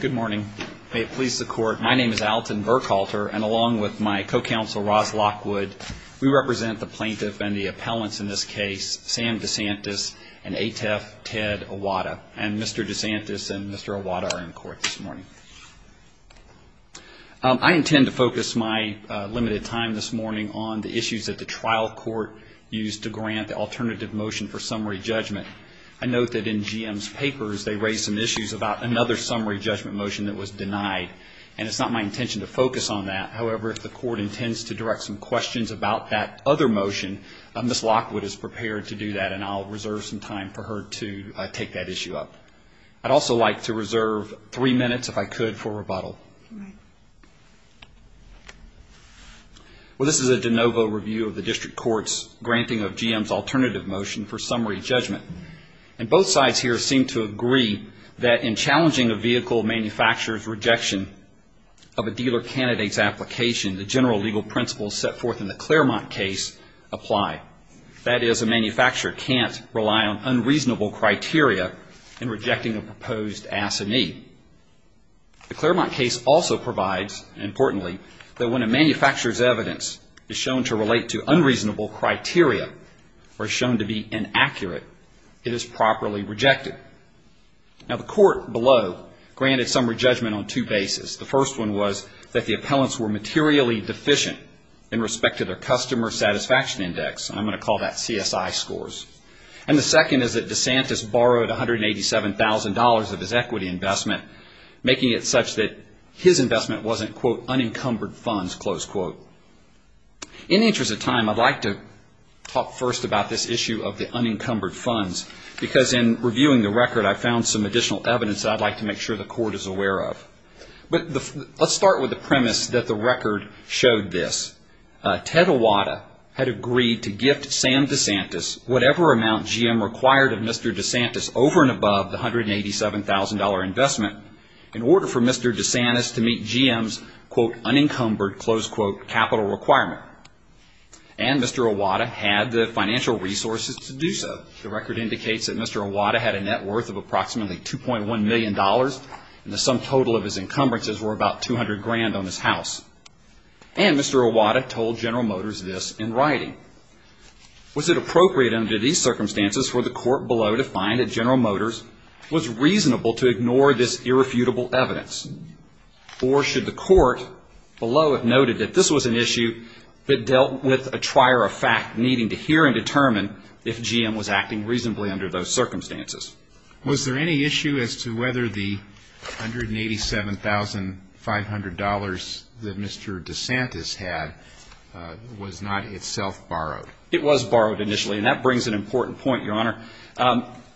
Good morning. May it please the court, my name is Alton Burkhalter and along with my co-counsel Ross Lockwood, we represent the plaintiff and the appellants in this case, Sam DeSantis and ATEF Ted Iwata. And Mr. DeSantis and Mr. Iwata are in court this morning. I intend to focus my limited time this morning on the issues that the trial court used to grant the alternative motion for summary judgment. I note that in GM's papers they raised some other summary judgment motion that was denied, and it's not my intention to focus on that. However, if the court intends to direct some questions about that other motion, Ms. Lockwood is prepared to do that and I'll reserve some time for her to take that issue up. I'd also like to reserve three minutes, if I could, for rebuttal. This is a de novo review of the district court's granting of GM's alternative motion for summary judgment. In the case of the Claremont case, the general legal principles set forth in the Claremont case apply. That is, a manufacturer can't rely on unreasonable criteria in rejecting a proposed assignee. The Claremont case also provides, importantly, that when a manufacturer's evidence is shown to relate to unreasonable criteria or shown to be inaccurate, it is properly rejected. Now, the court below granted summary judgment on two bases. The first one was that the appellants were materially deficient in respect to their customer satisfaction index, and I'm going to call that CSI scores. And the second is that DeSantis borrowed $187,000 of his equity investment, making it such that his investment wasn't, quote, unencumbered funds, close quote. In the interest of time, I'd like to talk first about this issue of the unencumbered funds, because in reviewing the record, I found some additional evidence that I'd like to make sure the court is aware of. But let's start with the premise that the record showed this. Ted Iwata had agreed to gift Sam DeSantis whatever amount GM required of Mr. DeSantis over and above the $187,000 investment in order for Mr. DeSantis to meet GM's, quote, capital requirement. And Mr. Iwata had the financial resources to do so. The record indicates that Mr. Iwata had a net worth of approximately $2.1 million, and the sum total of his encumbrances were about $200,000 on his house. And Mr. Iwata told General Motors this in writing. Was it appropriate under these circumstances for the court below to find that General Motors was reasonable to ignore this irrefutable evidence? Or should the court below have noted that this was an issue that dealt with a trier of fact needing to hear and determine if GM was acting reasonably under those circumstances? Was there any issue as to whether the $187,500 that Mr. DeSantis had was not itself borrowed? It was borrowed initially, and that brings an important point, Your Honor.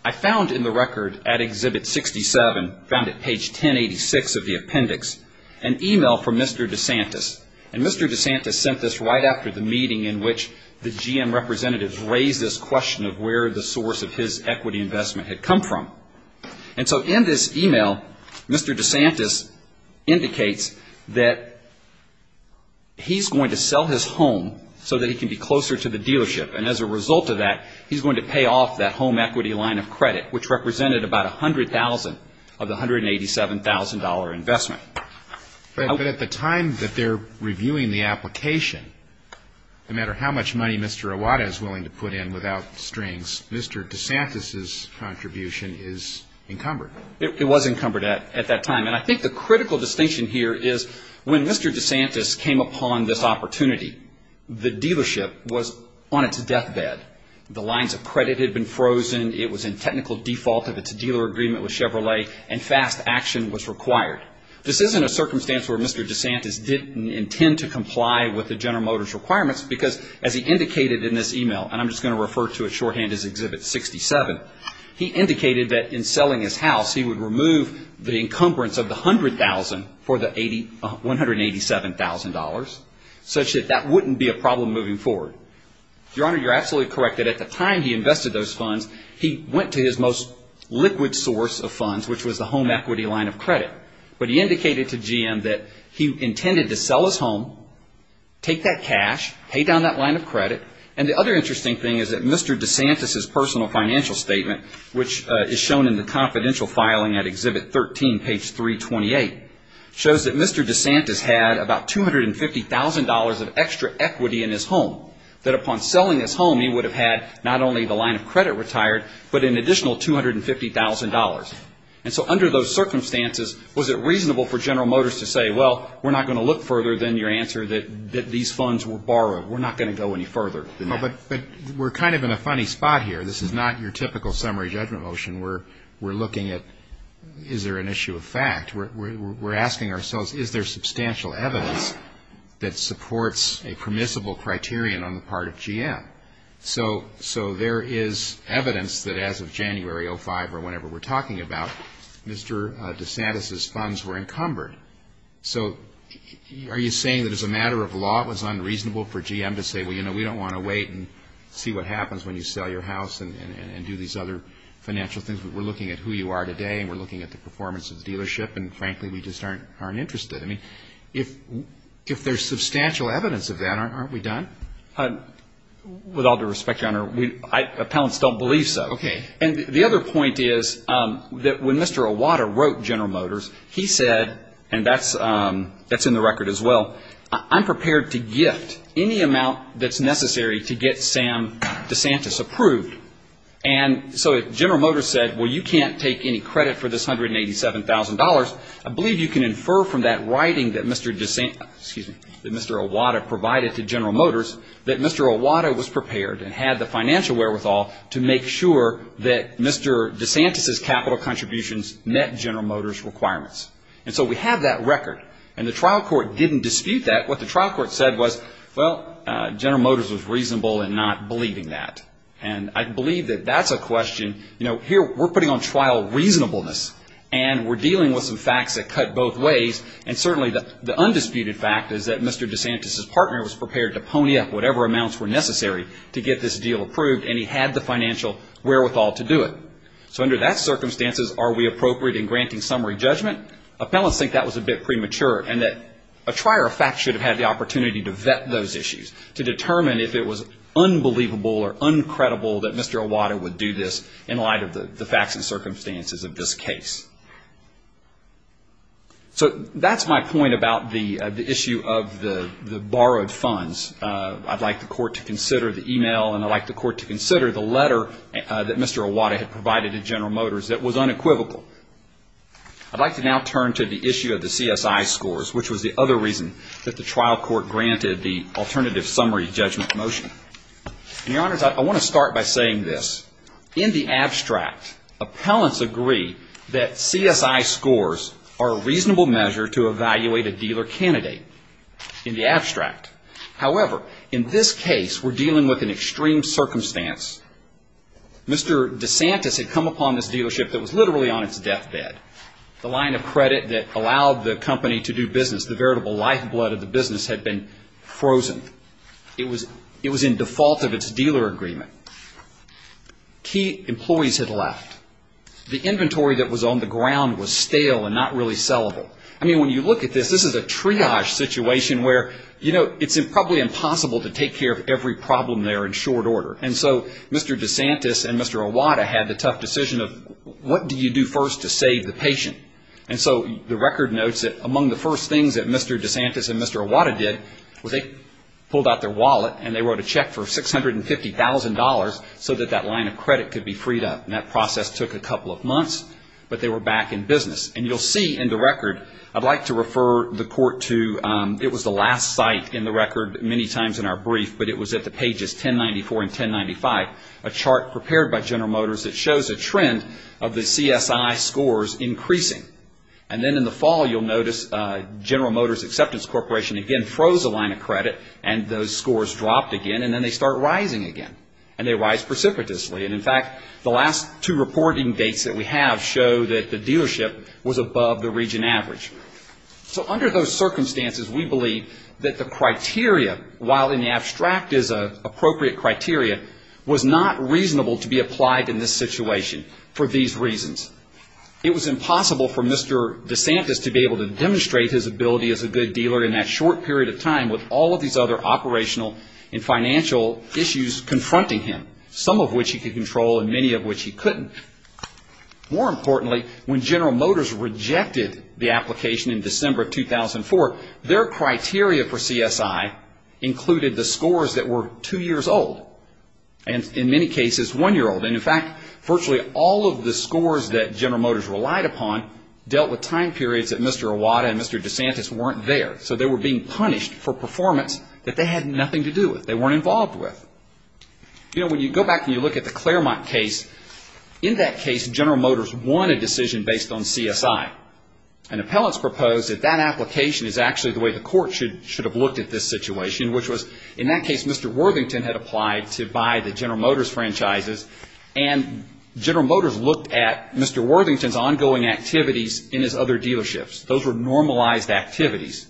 I found in the record at Exhibit 67, found at page 1086 of the appendix, an email from Mr. DeSantis. And Mr. DeSantis sent this right after the meeting in which the GM representatives raised this question of where the source of his equity investment had come from. And so in this email, Mr. DeSantis indicates that he's going to sell his home so that he can be closer to the dealership. And as a result of that, he's going to pay off that home equity line of credit, which represented about $100,000 of the $187,000 investment. But at the time that they're reviewing the application, no matter how much money Mr. Iwata is willing to put in without strings, Mr. DeSantis' contribution is encumbered. It was encumbered at that time. And I think the critical distinction here is when Mr. DeSantis came upon this opportunity, the dealership was on its deathbed. The lines of credit had been frozen. It was in technical default of its dealer agreement with Chevrolet, and fast action was required. This isn't a circumstance where Mr. DeSantis didn't intend to comply with the General Motors requirements, because as he indicated in this email, and I'm just going to refer to it shorthand as Exhibit 67, he indicated that in selling his house, he would remove the encumbrance of the $100,000 for the $187,000, such that that wouldn't be a problem moving forward. Your Honor, you're absolutely correct that at the time he invested those funds, he went to his most liquid source of funds, which was the home equity line of credit. But he indicated to GM that he intended to sell his home, take that cash, pay down that line of credit. And the other interesting thing is that Mr. DeSantis' personal financial statement, which is shown in the confidential filing at Exhibit 13, page 328, shows that Mr. DeSantis had about $250,000 of extra equity in his home, that upon selling his home, he would have had not only the line of credit retired, but an additional $250,000. And so under those circumstances, was it reasonable for General Motors to say, well, we're not going to look further than your answer that these funds were borrowed. We're not going to go any further than that. But we're kind of in a funny spot here. This is not your typical summary judgment motion. We're looking at, is there an issue of fact? We're asking ourselves, is there substantial evidence that supports a permissible criterion on the part of GM? So there is evidence that as of January 2005, or whenever we're talking about, Mr. DeSantis' funds were encumbered. So are you saying that as a matter of law, it was unreasonable for GM to say, well, you know, we don't want to wait and see what happens when you sell your house and do these other financial things? We're looking at who you are today, and we're looking at the performance of the dealership, and frankly, we just aren't interested. I mean, if there's substantial evidence of that, aren't we done? With all due respect, Your Honor, appellants don't believe so. Okay. And the other point is that when Mr. Iwata wrote General Motors, he said, and that's in the record as well, I'm prepared to gift any amount that's necessary to get Sam DeSantis approved. And so if General Motors said, well, you can't take any credit for this $187,000, I believe you can infer from that writing that Mr. DeSantis, excuse me, that Mr. Iwata provided to General Motors that Mr. Iwata was prepared and had the financial wherewithal to make sure that Mr. DeSantis' capital contributions met General Motors' requirements. And so we have that record. And the trial court didn't dispute that. What the trial court said was, well, General Motors was reasonable in not believing that. And I believe that that's a question, you know, here we're putting on trial reasonableness, and we're dealing with some facts that cut both ways, and certainly the undisputed fact is that Mr. DeSantis' partner was prepared to pony up whatever amounts were necessary to get this deal approved, and he had the financial wherewithal to do it. So under that circumstances, are we appropriate in granting summary judgment? Appellants think that was a bit premature, and that a trier of facts should have had the opportunity to vet those issues, to determine if it was unbelievable or uncredible that Mr. Iwata would do this in light of the facts and circumstances of this case. So that's my point about the issue of the borrowed funds. I'd like the court to consider the e-mail, and I'd like the court to consider the letter that Mr. Iwata had provided to General Motors that was unequivocal. I'd like to now turn to the issue of the CSI scores, which was the other reason that the trial court granted the alternative summary judgment motion. And, Your Honors, I want to start by saying this. In the abstract, appellants agree that CSI scores are a reasonable measure to evaluate a dealer candidate. In the abstract. However, in this case, we're dealing with an extreme circumstance. Mr. DeSantis had come upon this dealership that was literally on its deathbed. The line of credit that allowed the company to do business, the veritable lifeblood of the business, had been frozen. It was in default of its dealer agreement. Key employees had left. The inventory that was on the ground was stale and not really sellable. I mean, when you look at this, this is a triage situation where, you know, it's probably impossible to take care of every problem there in short order. And so Mr. DeSantis and Mr. Iwata had the tough decision of what do you do first to save the patient? And so the record notes that among the first things that Mr. DeSantis and Mr. Iwata did was they pulled out their wallet and they wrote a check for $650,000 so that that line of credit could be freed up. And that process took a couple of months, but they were back in business. And you'll see in the record, I'd like to refer the court to, it was the last site in the record many times in our brief, but it was at the pages 1094 and 1095, a chart prepared by General Motors that shows a trend of the CSI scores increasing. And then in the fall, you'll notice General Motors Acceptance Corporation again froze a line of credit and those scores dropped again and then they start rising again. And they rise precipitously. And in fact, the last two reporting dates that we have show that the dealership was above the region average. So under those circumstances, we believe that the criteria, while in the abstract is an appropriate criteria, was not reasonable to be applied in this situation for these reasons. It was impossible for Mr. DeSantis to be able to demonstrate his ability as a good dealer in that short period of time with all of these other operational and financial issues confronting him, some of which he could control and many of which he couldn't. More importantly, when General Motors rejected the application in the CSI, included the scores that were two years old and in many cases, one year old. And in fact, virtually all of the scores that General Motors relied upon dealt with time periods that Mr. Iwata and Mr. DeSantis weren't there. So they were being punished for performance that they had nothing to do with. They weren't involved with. You know, when you go back and you look at the Claremont case, in that case General Motors won a decision based on CSI. And appellants proposed that that application is actually the way the court should have looked at this situation, which was in that case Mr. Worthington had applied to buy the General Motors franchises and General Motors looked at Mr. Worthington's ongoing activities in his other dealerships. Those were normalized activities.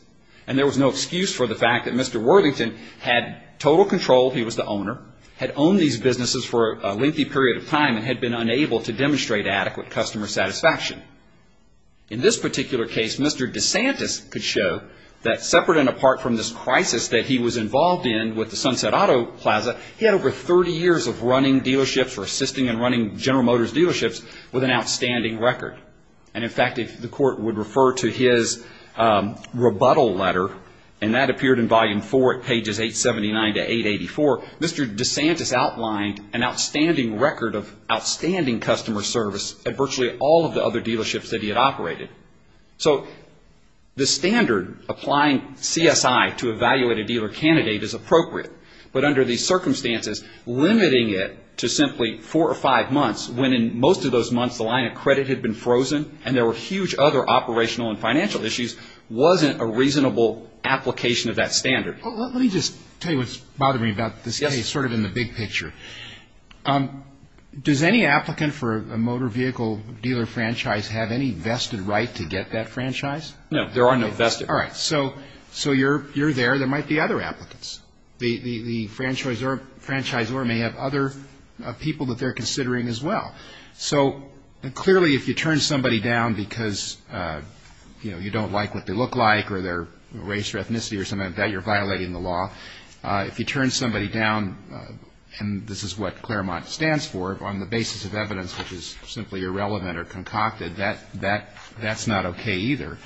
And there was no excuse for the fact that Mr. Worthington had total control, he was the owner, had owned these businesses for a lengthy period of time and had been unable to demonstrate adequate customer satisfaction. In this particular case, Mr. DeSantis could show that separate and apart from this crisis that he was involved in with the Sunset Auto Plaza, he had over 30 years of running dealerships or assisting and running General Motors dealerships with an outstanding record. And in fact, if the court would refer to his rebuttal letter, and that appeared in volume four at pages 879 to 884, Mr. DeSantis outlined an outstanding record of outstanding customer service at all of the other dealerships that he had operated. So the standard applying CSI to evaluate a dealer candidate is appropriate. But under these circumstances, limiting it to simply four or five months, when in most of those months the line of credit had been frozen and there were huge other operational and financial issues, wasn't a reasonable application of that standard. Let me just tell you what's bothering me about this case, sort of in the big picture. Does any applicant for a motor vehicle dealer franchise have any vested right to get that franchise? No. There are no vested rights. All right. So you're there. There might be other applicants. The franchisor may have other people that they're considering as well. So clearly, if you turn somebody down because, you know, you don't like what they look like or their race or ethnicity or something like that, you're violating the law. If you turn somebody down, and this is what Claremont stands for, on the basis of evidence which is simply irrelevant or concocted, that's not okay either.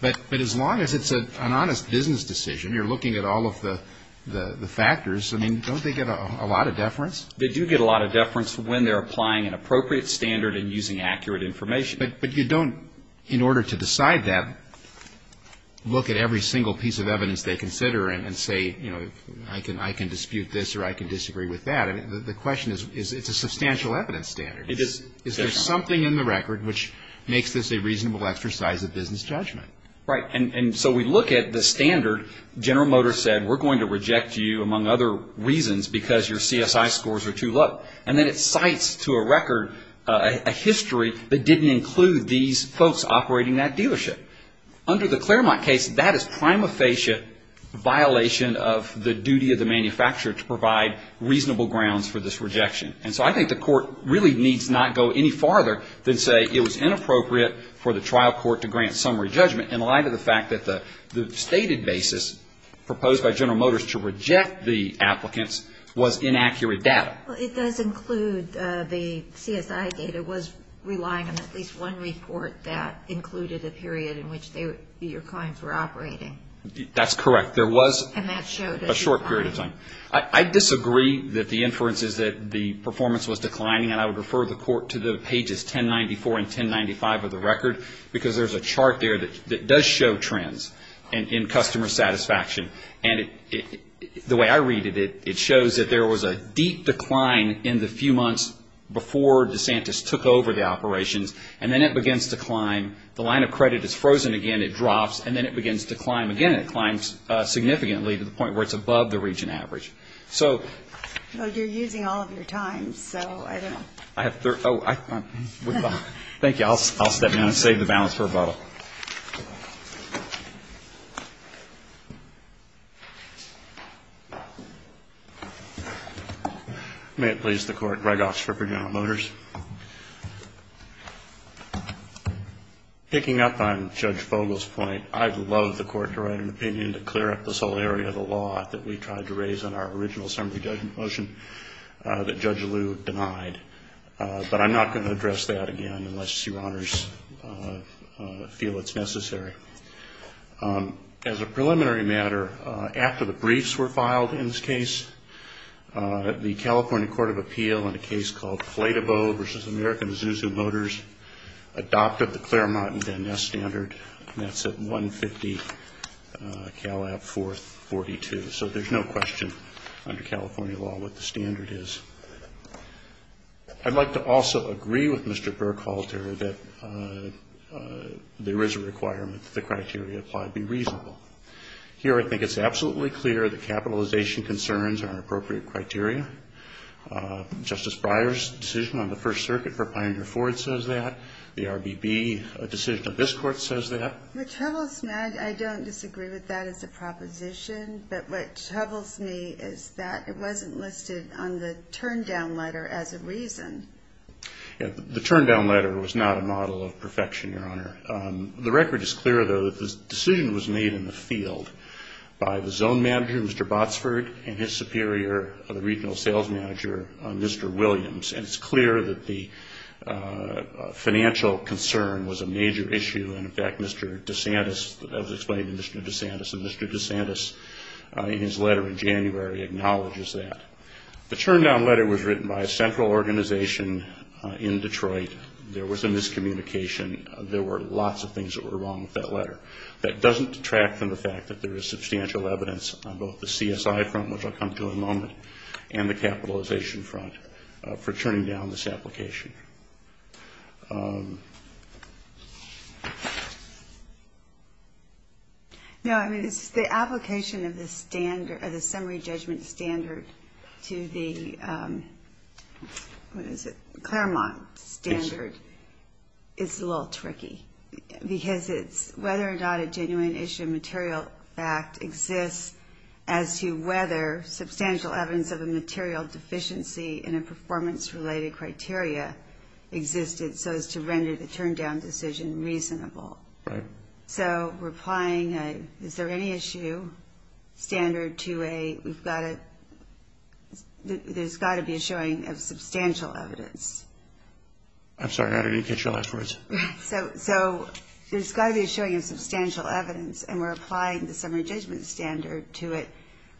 But as long as it's an honest business decision, you're looking at all of the factors, I mean, don't they get a lot of deference? They do get a lot of deference when they're applying an appropriate standard and using accurate information. But you don't, in order to decide that, look at every single piece of evidence they consider and say, you know, I can dispute this or I can disagree with that. The question is, it's a substantial evidence standard. Is there something in the record which makes this a reasonable exercise of business judgment? Right. And so we look at the standard. General Motors said, we're going to reject you among other reasons because your CSI scores are too low. And then it cites to a record a history that didn't include these folks operating that dealership. Under the Claremont case, that is prima facie violation of the duty of the manufacturer to provide reasonable grounds for this rejection. And so I think the court really needs not go any farther than say it was inappropriate for the trial court to grant summary judgment in light of the fact that the stated basis proposed by General Motors to reject the applicants was inaccurate data. Well, it does include the CSI data was relying on at least one report that included a period in which your clients were operating. That's correct. There was a short period of time. I disagree that the inference is that the performance was declining. And I would refer the court to the pages 1094 and 1095 of the record because there's a chart there that does show trends in customer satisfaction. And the way I read it, it shows that there was a deep decline in the few months before DeSantis took over the operations. And then it begins to climb. The line of credit is frozen again. It drops. And then it begins to climb again. It climbs significantly to the point where it's above the region average. So you're using all of your time, so I don't know. Thank you. I'll step down and save the balance for rebuttal. May it please the Court. Greg Osprey for General Motors. Picking up on Judge Fogel's point, I'd love the court to write an opinion to clear up this whole area of the law that we tried to raise in our original summary judgment motion that Judge Liu denied. But I'm not going to address that again unless your honors feel it's necessary. As a preliminary matter, after the briefs were filed in this case, the California Court of Appeal in a case called Flatibow v. American Zuzu Motors adopted the Claremont and Van Ness standard, and that's at 150 Calab 442. So there's no question under California law what the standard is. I'd like to also agree with Mr. Burkhalter that there is a requirement that the criteria applied be reasonable. Here I think it's absolutely clear that capitalization concerns are appropriate criteria. Justice Breyer's decision on the First Circuit for Pioneer Ford says that. The RBB decision of this Court says that. What troubles me, I don't disagree with that as a proposition, but what troubles me is that it wasn't listed on the turndown letter as a reason. The turndown letter was not a model of perfection, Your Honor. The record is clear, though, that this decision was made in the field by the zone manager, Mr. Botsford, and his superior, the regional sales manager, Mr. Williams. And it's clear that the financial concern was a major issue, and in fact Mr. DeSantis, as explained in Mr. DeSantis, and Mr. DeSantis in his letter in January, acknowledges that. The turndown letter was written by a central organization in Detroit. There was a miscommunication. There were lots of things that were wrong with that letter. That doesn't detract from the fact that there is substantial evidence on both the CSI front, which I'll come to in a moment, and the capitalization front for turning down this application. No, I mean, the application of the summary judgment standard to the, what is it, Claremont standard is a little tricky, because it's whether or not a genuine issue of material fact exists as to whether substantial evidence of a material deficiency in a performance related criteria existed, so as to render the turndown decision reasonable. Right. So we're applying a, is there any issue standard to a, we've got a, there's got to be a showing of substantial evidence. I'm sorry, I didn't catch your last words. So there's got to be a showing of substantial evidence, and we're applying the summary judgment standard to it,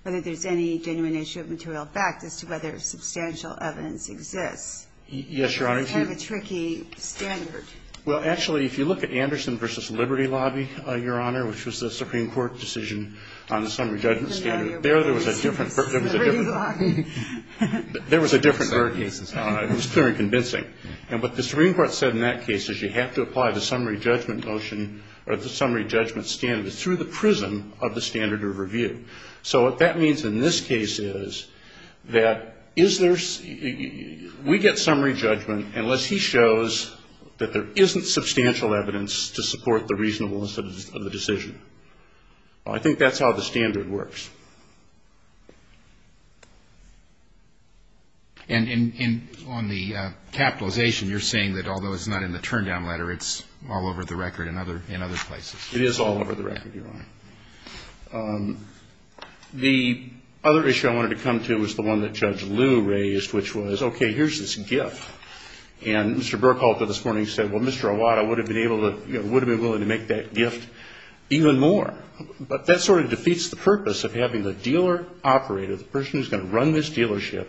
whether there's any genuine issue of material fact as to whether substantial evidence exists. Yes, Your Honor. It's kind of a tricky standard. Well, actually, if you look at Anderson v. Liberty Lobby, Your Honor, which was the Supreme Court decision on the summary judgment standard, there there was a different, there was a different, there was a different, it was clear and convincing. And what the Supreme Court said in that case is you have to apply the summary judgment notion, or the summary judgment standard, through the prism of the standard of review. So what that means in this case is that is there's, we get summary judgment unless he shows that there isn't substantial evidence to support the reasonableness of the decision. I think that's how the standard works. And in, on the capitalization, you're saying that although it's not in the turndown letter, it's all over the record in other, in other places. It is all over the record, Your Honor. The other issue I wanted to come to was the one that Judge Liu raised, which was, okay, here's this gift. And Mr. Burkhalter this morning said, well, Mr. Iwata would have been able to, would have been willing to make that gift even more. But that sort of defeats the purpose of having the dealer operator, the person who's going to run this dealership,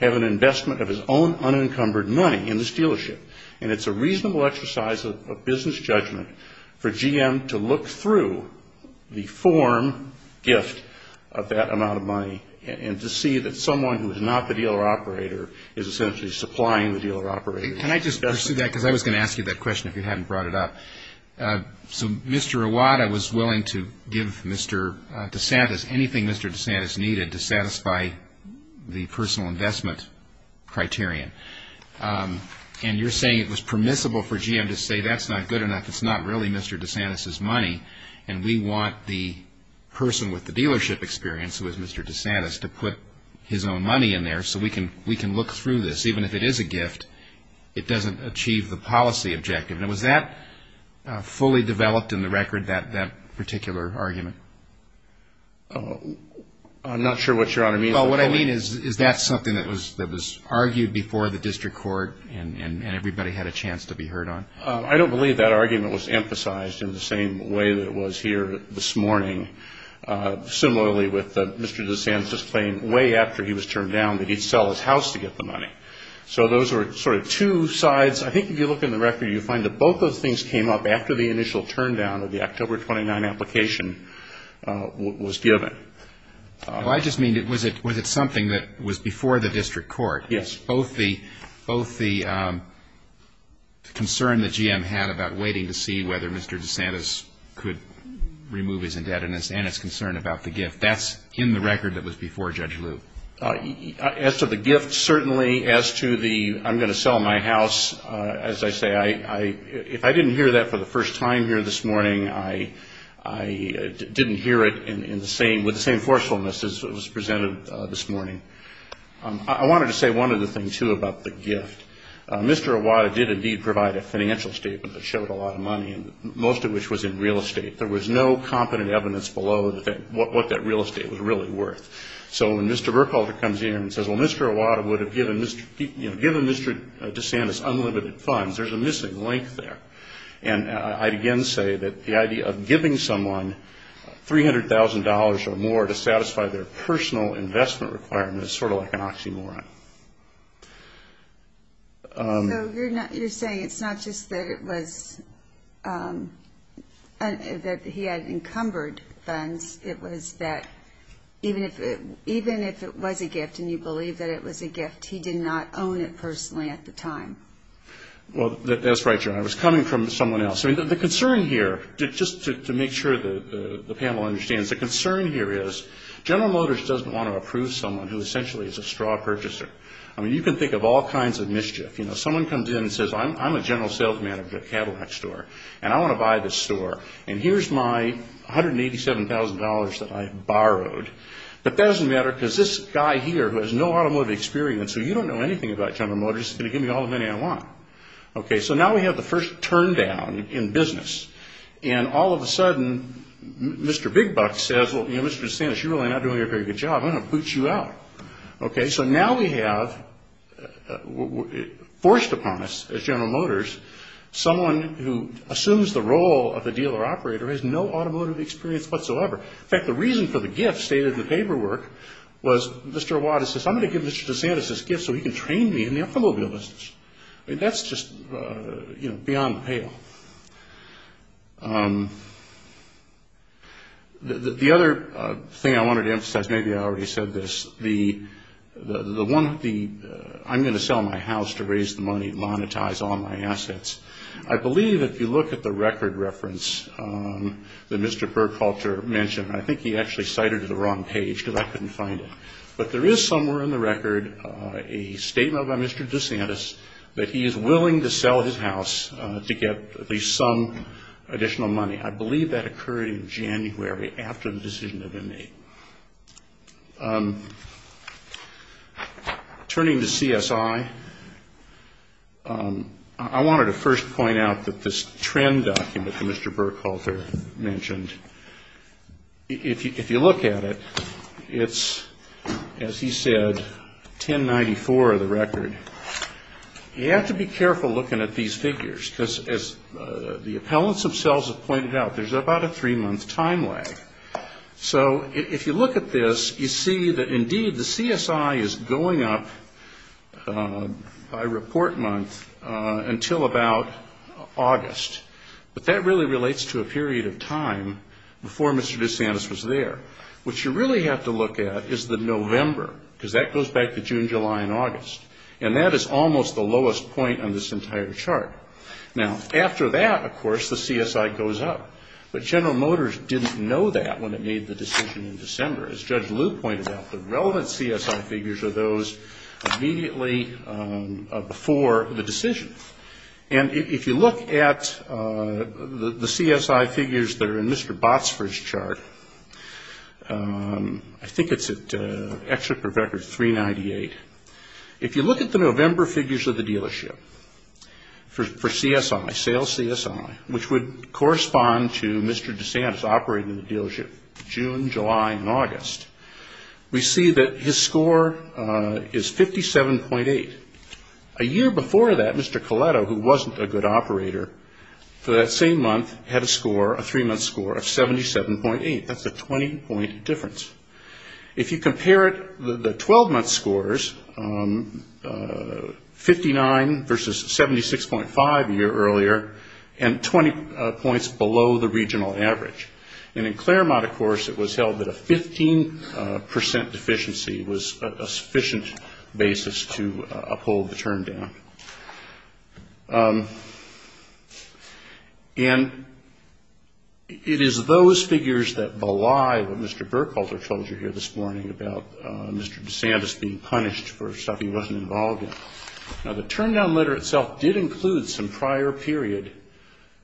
have an investment of his own unencumbered money in this dealership. And it's a reasonable exercise of business judgment for GM to look through the form gift of that amount of money and to see that someone who is not the dealer operator is essentially supplying the dealer operator. Can I just pursue that? Because I was going to ask you that question if you hadn't brought it up. So Mr. Iwata was willing to give Mr. DeSantis anything Mr. DeSantis needed to satisfy the personal investment criterion. And you're saying it was permissible for GM to say that's not good enough. It's not really Mr. DeSantis' money. And we want the person with the dealership experience who is Mr. DeSantis to put his own money in there so we can look through this. Even if it is a gift, it doesn't achieve the policy objective. And was that fully developed in the record, that particular argument? I'm not sure what Your Honor means by that. Well, what I mean is, is that something that was argued before the district court and everybody had a chance to be heard on? I don't believe that argument was emphasized in the same way that it was here this morning. Similarly with Mr. DeSantis' claim way after he was turned down that he'd sell his house to get the money. So those were sort of two sides. I think if you look in the record, you find that both of those things came up after the initial turndown of the October 29 application was given. Well, I just mean, was it something that was before the district court? Yes. Both the concern that GM had about waiting to see whether Mr. DeSantis could remove his indebtedness and his concern about the gift. That's in the record that was before Judge Lew. As to the gift, certainly. As to the I'm going to sell my house, as I say, if I didn't hear that for the first time here this morning, I didn't hear it with the same forcefulness as was presented this morning. I wanted to say one other thing, too, about the gift. Mr. Iwata did indeed provide a financial statement that showed a lot of money, most of which was in real estate. There was no competent evidence below what that real estate was really worth. So when Mr. Burkholder comes in and says, well, Mr. Iwata would have given Mr. DeSantis unlimited funds, there's a missing link there. And I'd again say that the idea of giving someone $300,000 or more to satisfy their personal investment requirements is sort of like an oxymoron. So you're saying it's not just that it was that he had encumbered funds. It was that even if it was a gift and you believe that it was a gift, he did not own it personally at the time. Well, that's right, John. I was coming from someone else. The concern here, just to make sure the panel understands, the concern here is General Motors doesn't want to approve someone who essentially is a straw purchaser. I mean, you can think of all kinds of mischief. You know, someone comes in and says, I'm a general sales manager at a Cadillac store and I want to buy this store and here's my $187,000 that I borrowed. But that doesn't matter because this guy here who has no automotive experience, who you don't know anything about how many I want. Okay, so now we have the first turndown in business. And all of a sudden, Mr. Big Buck says, well, you know, Mr. DeSantis, you're really not doing a very good job. I'm going to boot you out. Okay, so now we have, forced upon us as General Motors, someone who assumes the role of a dealer operator who has no automotive experience whatsoever. In fact, the reason for the gift stated in the paperwork was Mr. Awadis says, I'm going to give Mr. DeSantis this gift so he can train me in the automobile business. I mean, that's just, you know, beyond pale. The other thing I wanted to emphasize, maybe I already said this, the one, the I'm going to sell my house to raise the money, monetize all my assets. I believe if you look at the record reference that Mr. Burkhalter mentioned, I think he actually cited it on the wrong there is somewhere in the record a statement by Mr. DeSantis that he is willing to sell his house to get at least some additional money. I believe that occurred in January after the decision had been made. Turning to CSI, I wanted to first point out that this trend document that Mr. Burkhalter mentioned, if you look at it, it's, as he said, 1094 of the record. You have to be careful looking at these figures, because as the appellants themselves have pointed out, there's about a three-month time lag. So if you look at this, you see that indeed the CSI is going up by report month until about August. But that really relates to a period in which the date of time before Mr. DeSantis was there. What you really have to look at is the November, because that goes back to June, July, and August. And that is almost the lowest point on this entire chart. Now, after that, of course, the CSI goes up. But General Motors didn't know that when it made the decision in December. As Judge Liu pointed out, the relevant CSI figures are those immediately before the decision. And if you look at the CSI figures that are in Mr. Botsford's chart, I think it's at, actually, for record, 398. If you look at the November figures of the dealership for CSI, sales CSI, which would correspond to Mr. DeSantis operating the dealership, June, July, and August, we see that his score is 57.8. A year before that, Mr. Coletto, who wasn't a good operator, for that same month, had a score, a three-month score, of 77.8. That's a 20-point difference. If you compare it, the 12-month scores, 59 versus 76.5 a year earlier, and 20 points below the regional average. And in Claremont, of course, it was held that a 15 percent deficiency was a sufficient basis to uphold the term down. And it is those figures that belie what Mr. Burkhalter told you here this morning about Mr. DeSantis being punished for stuff he wasn't involved in. Now, the term down letter itself did include some prior period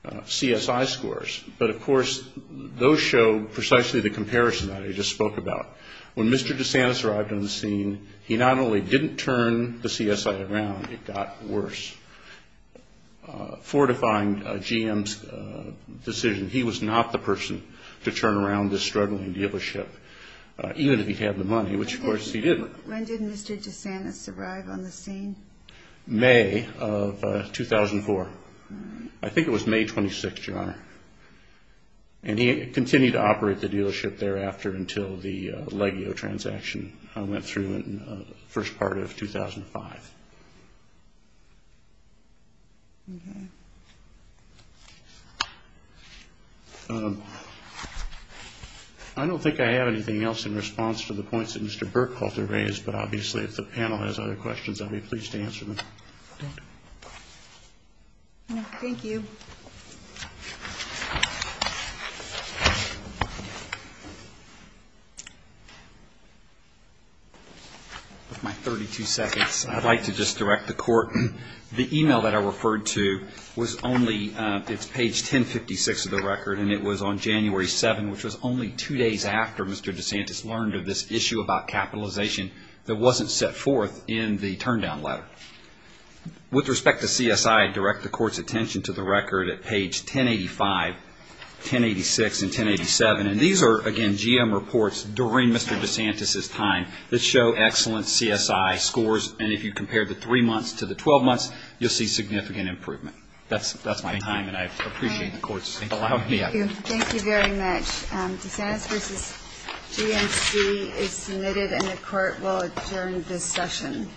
CSI scores. But, of course, those show precisely the comparison that I just spoke about. When Mr. DeSantis arrived on the scene, he not only didn't turn the CSI around, it got worse. Fortifying GM's decision, he was not the person to turn around this struggling dealership, even if he had the money, which, of course, he didn't. When did Mr. DeSantis arrive on the scene? May of 2004. I think it was May 26th, Your Honor. And he continued to operate the dealership thereafter until the Legio transaction went through in the first part of 2005. I don't think I have anything else in response to the points that Mr. Burkhalter raised, but obviously if the panel has other questions, I'd be pleased to answer them. With my 32 seconds, I'd like to just direct the Court. The email that I referred to was only, it's page 1056 of the record, and it was on January 7th, which was only two days after Mr. DeSantis learned of this issue about capitalization that wasn't set forth in the turn down letter. With respect to CSI, I'd direct the Court's attention to the record at page 1085, 1086, and 1087. And these are, again, GM reports during Mr. DeSantis' time that show excellent CSI scores, and if you compare the three months to the 12 months, you'll see significant improvement. That's my time, and I appreciate the Court's allowing me to have it. Thank you. Thank you very much. DeSantis v. GMC is submitted, and the Court will adjourn this session.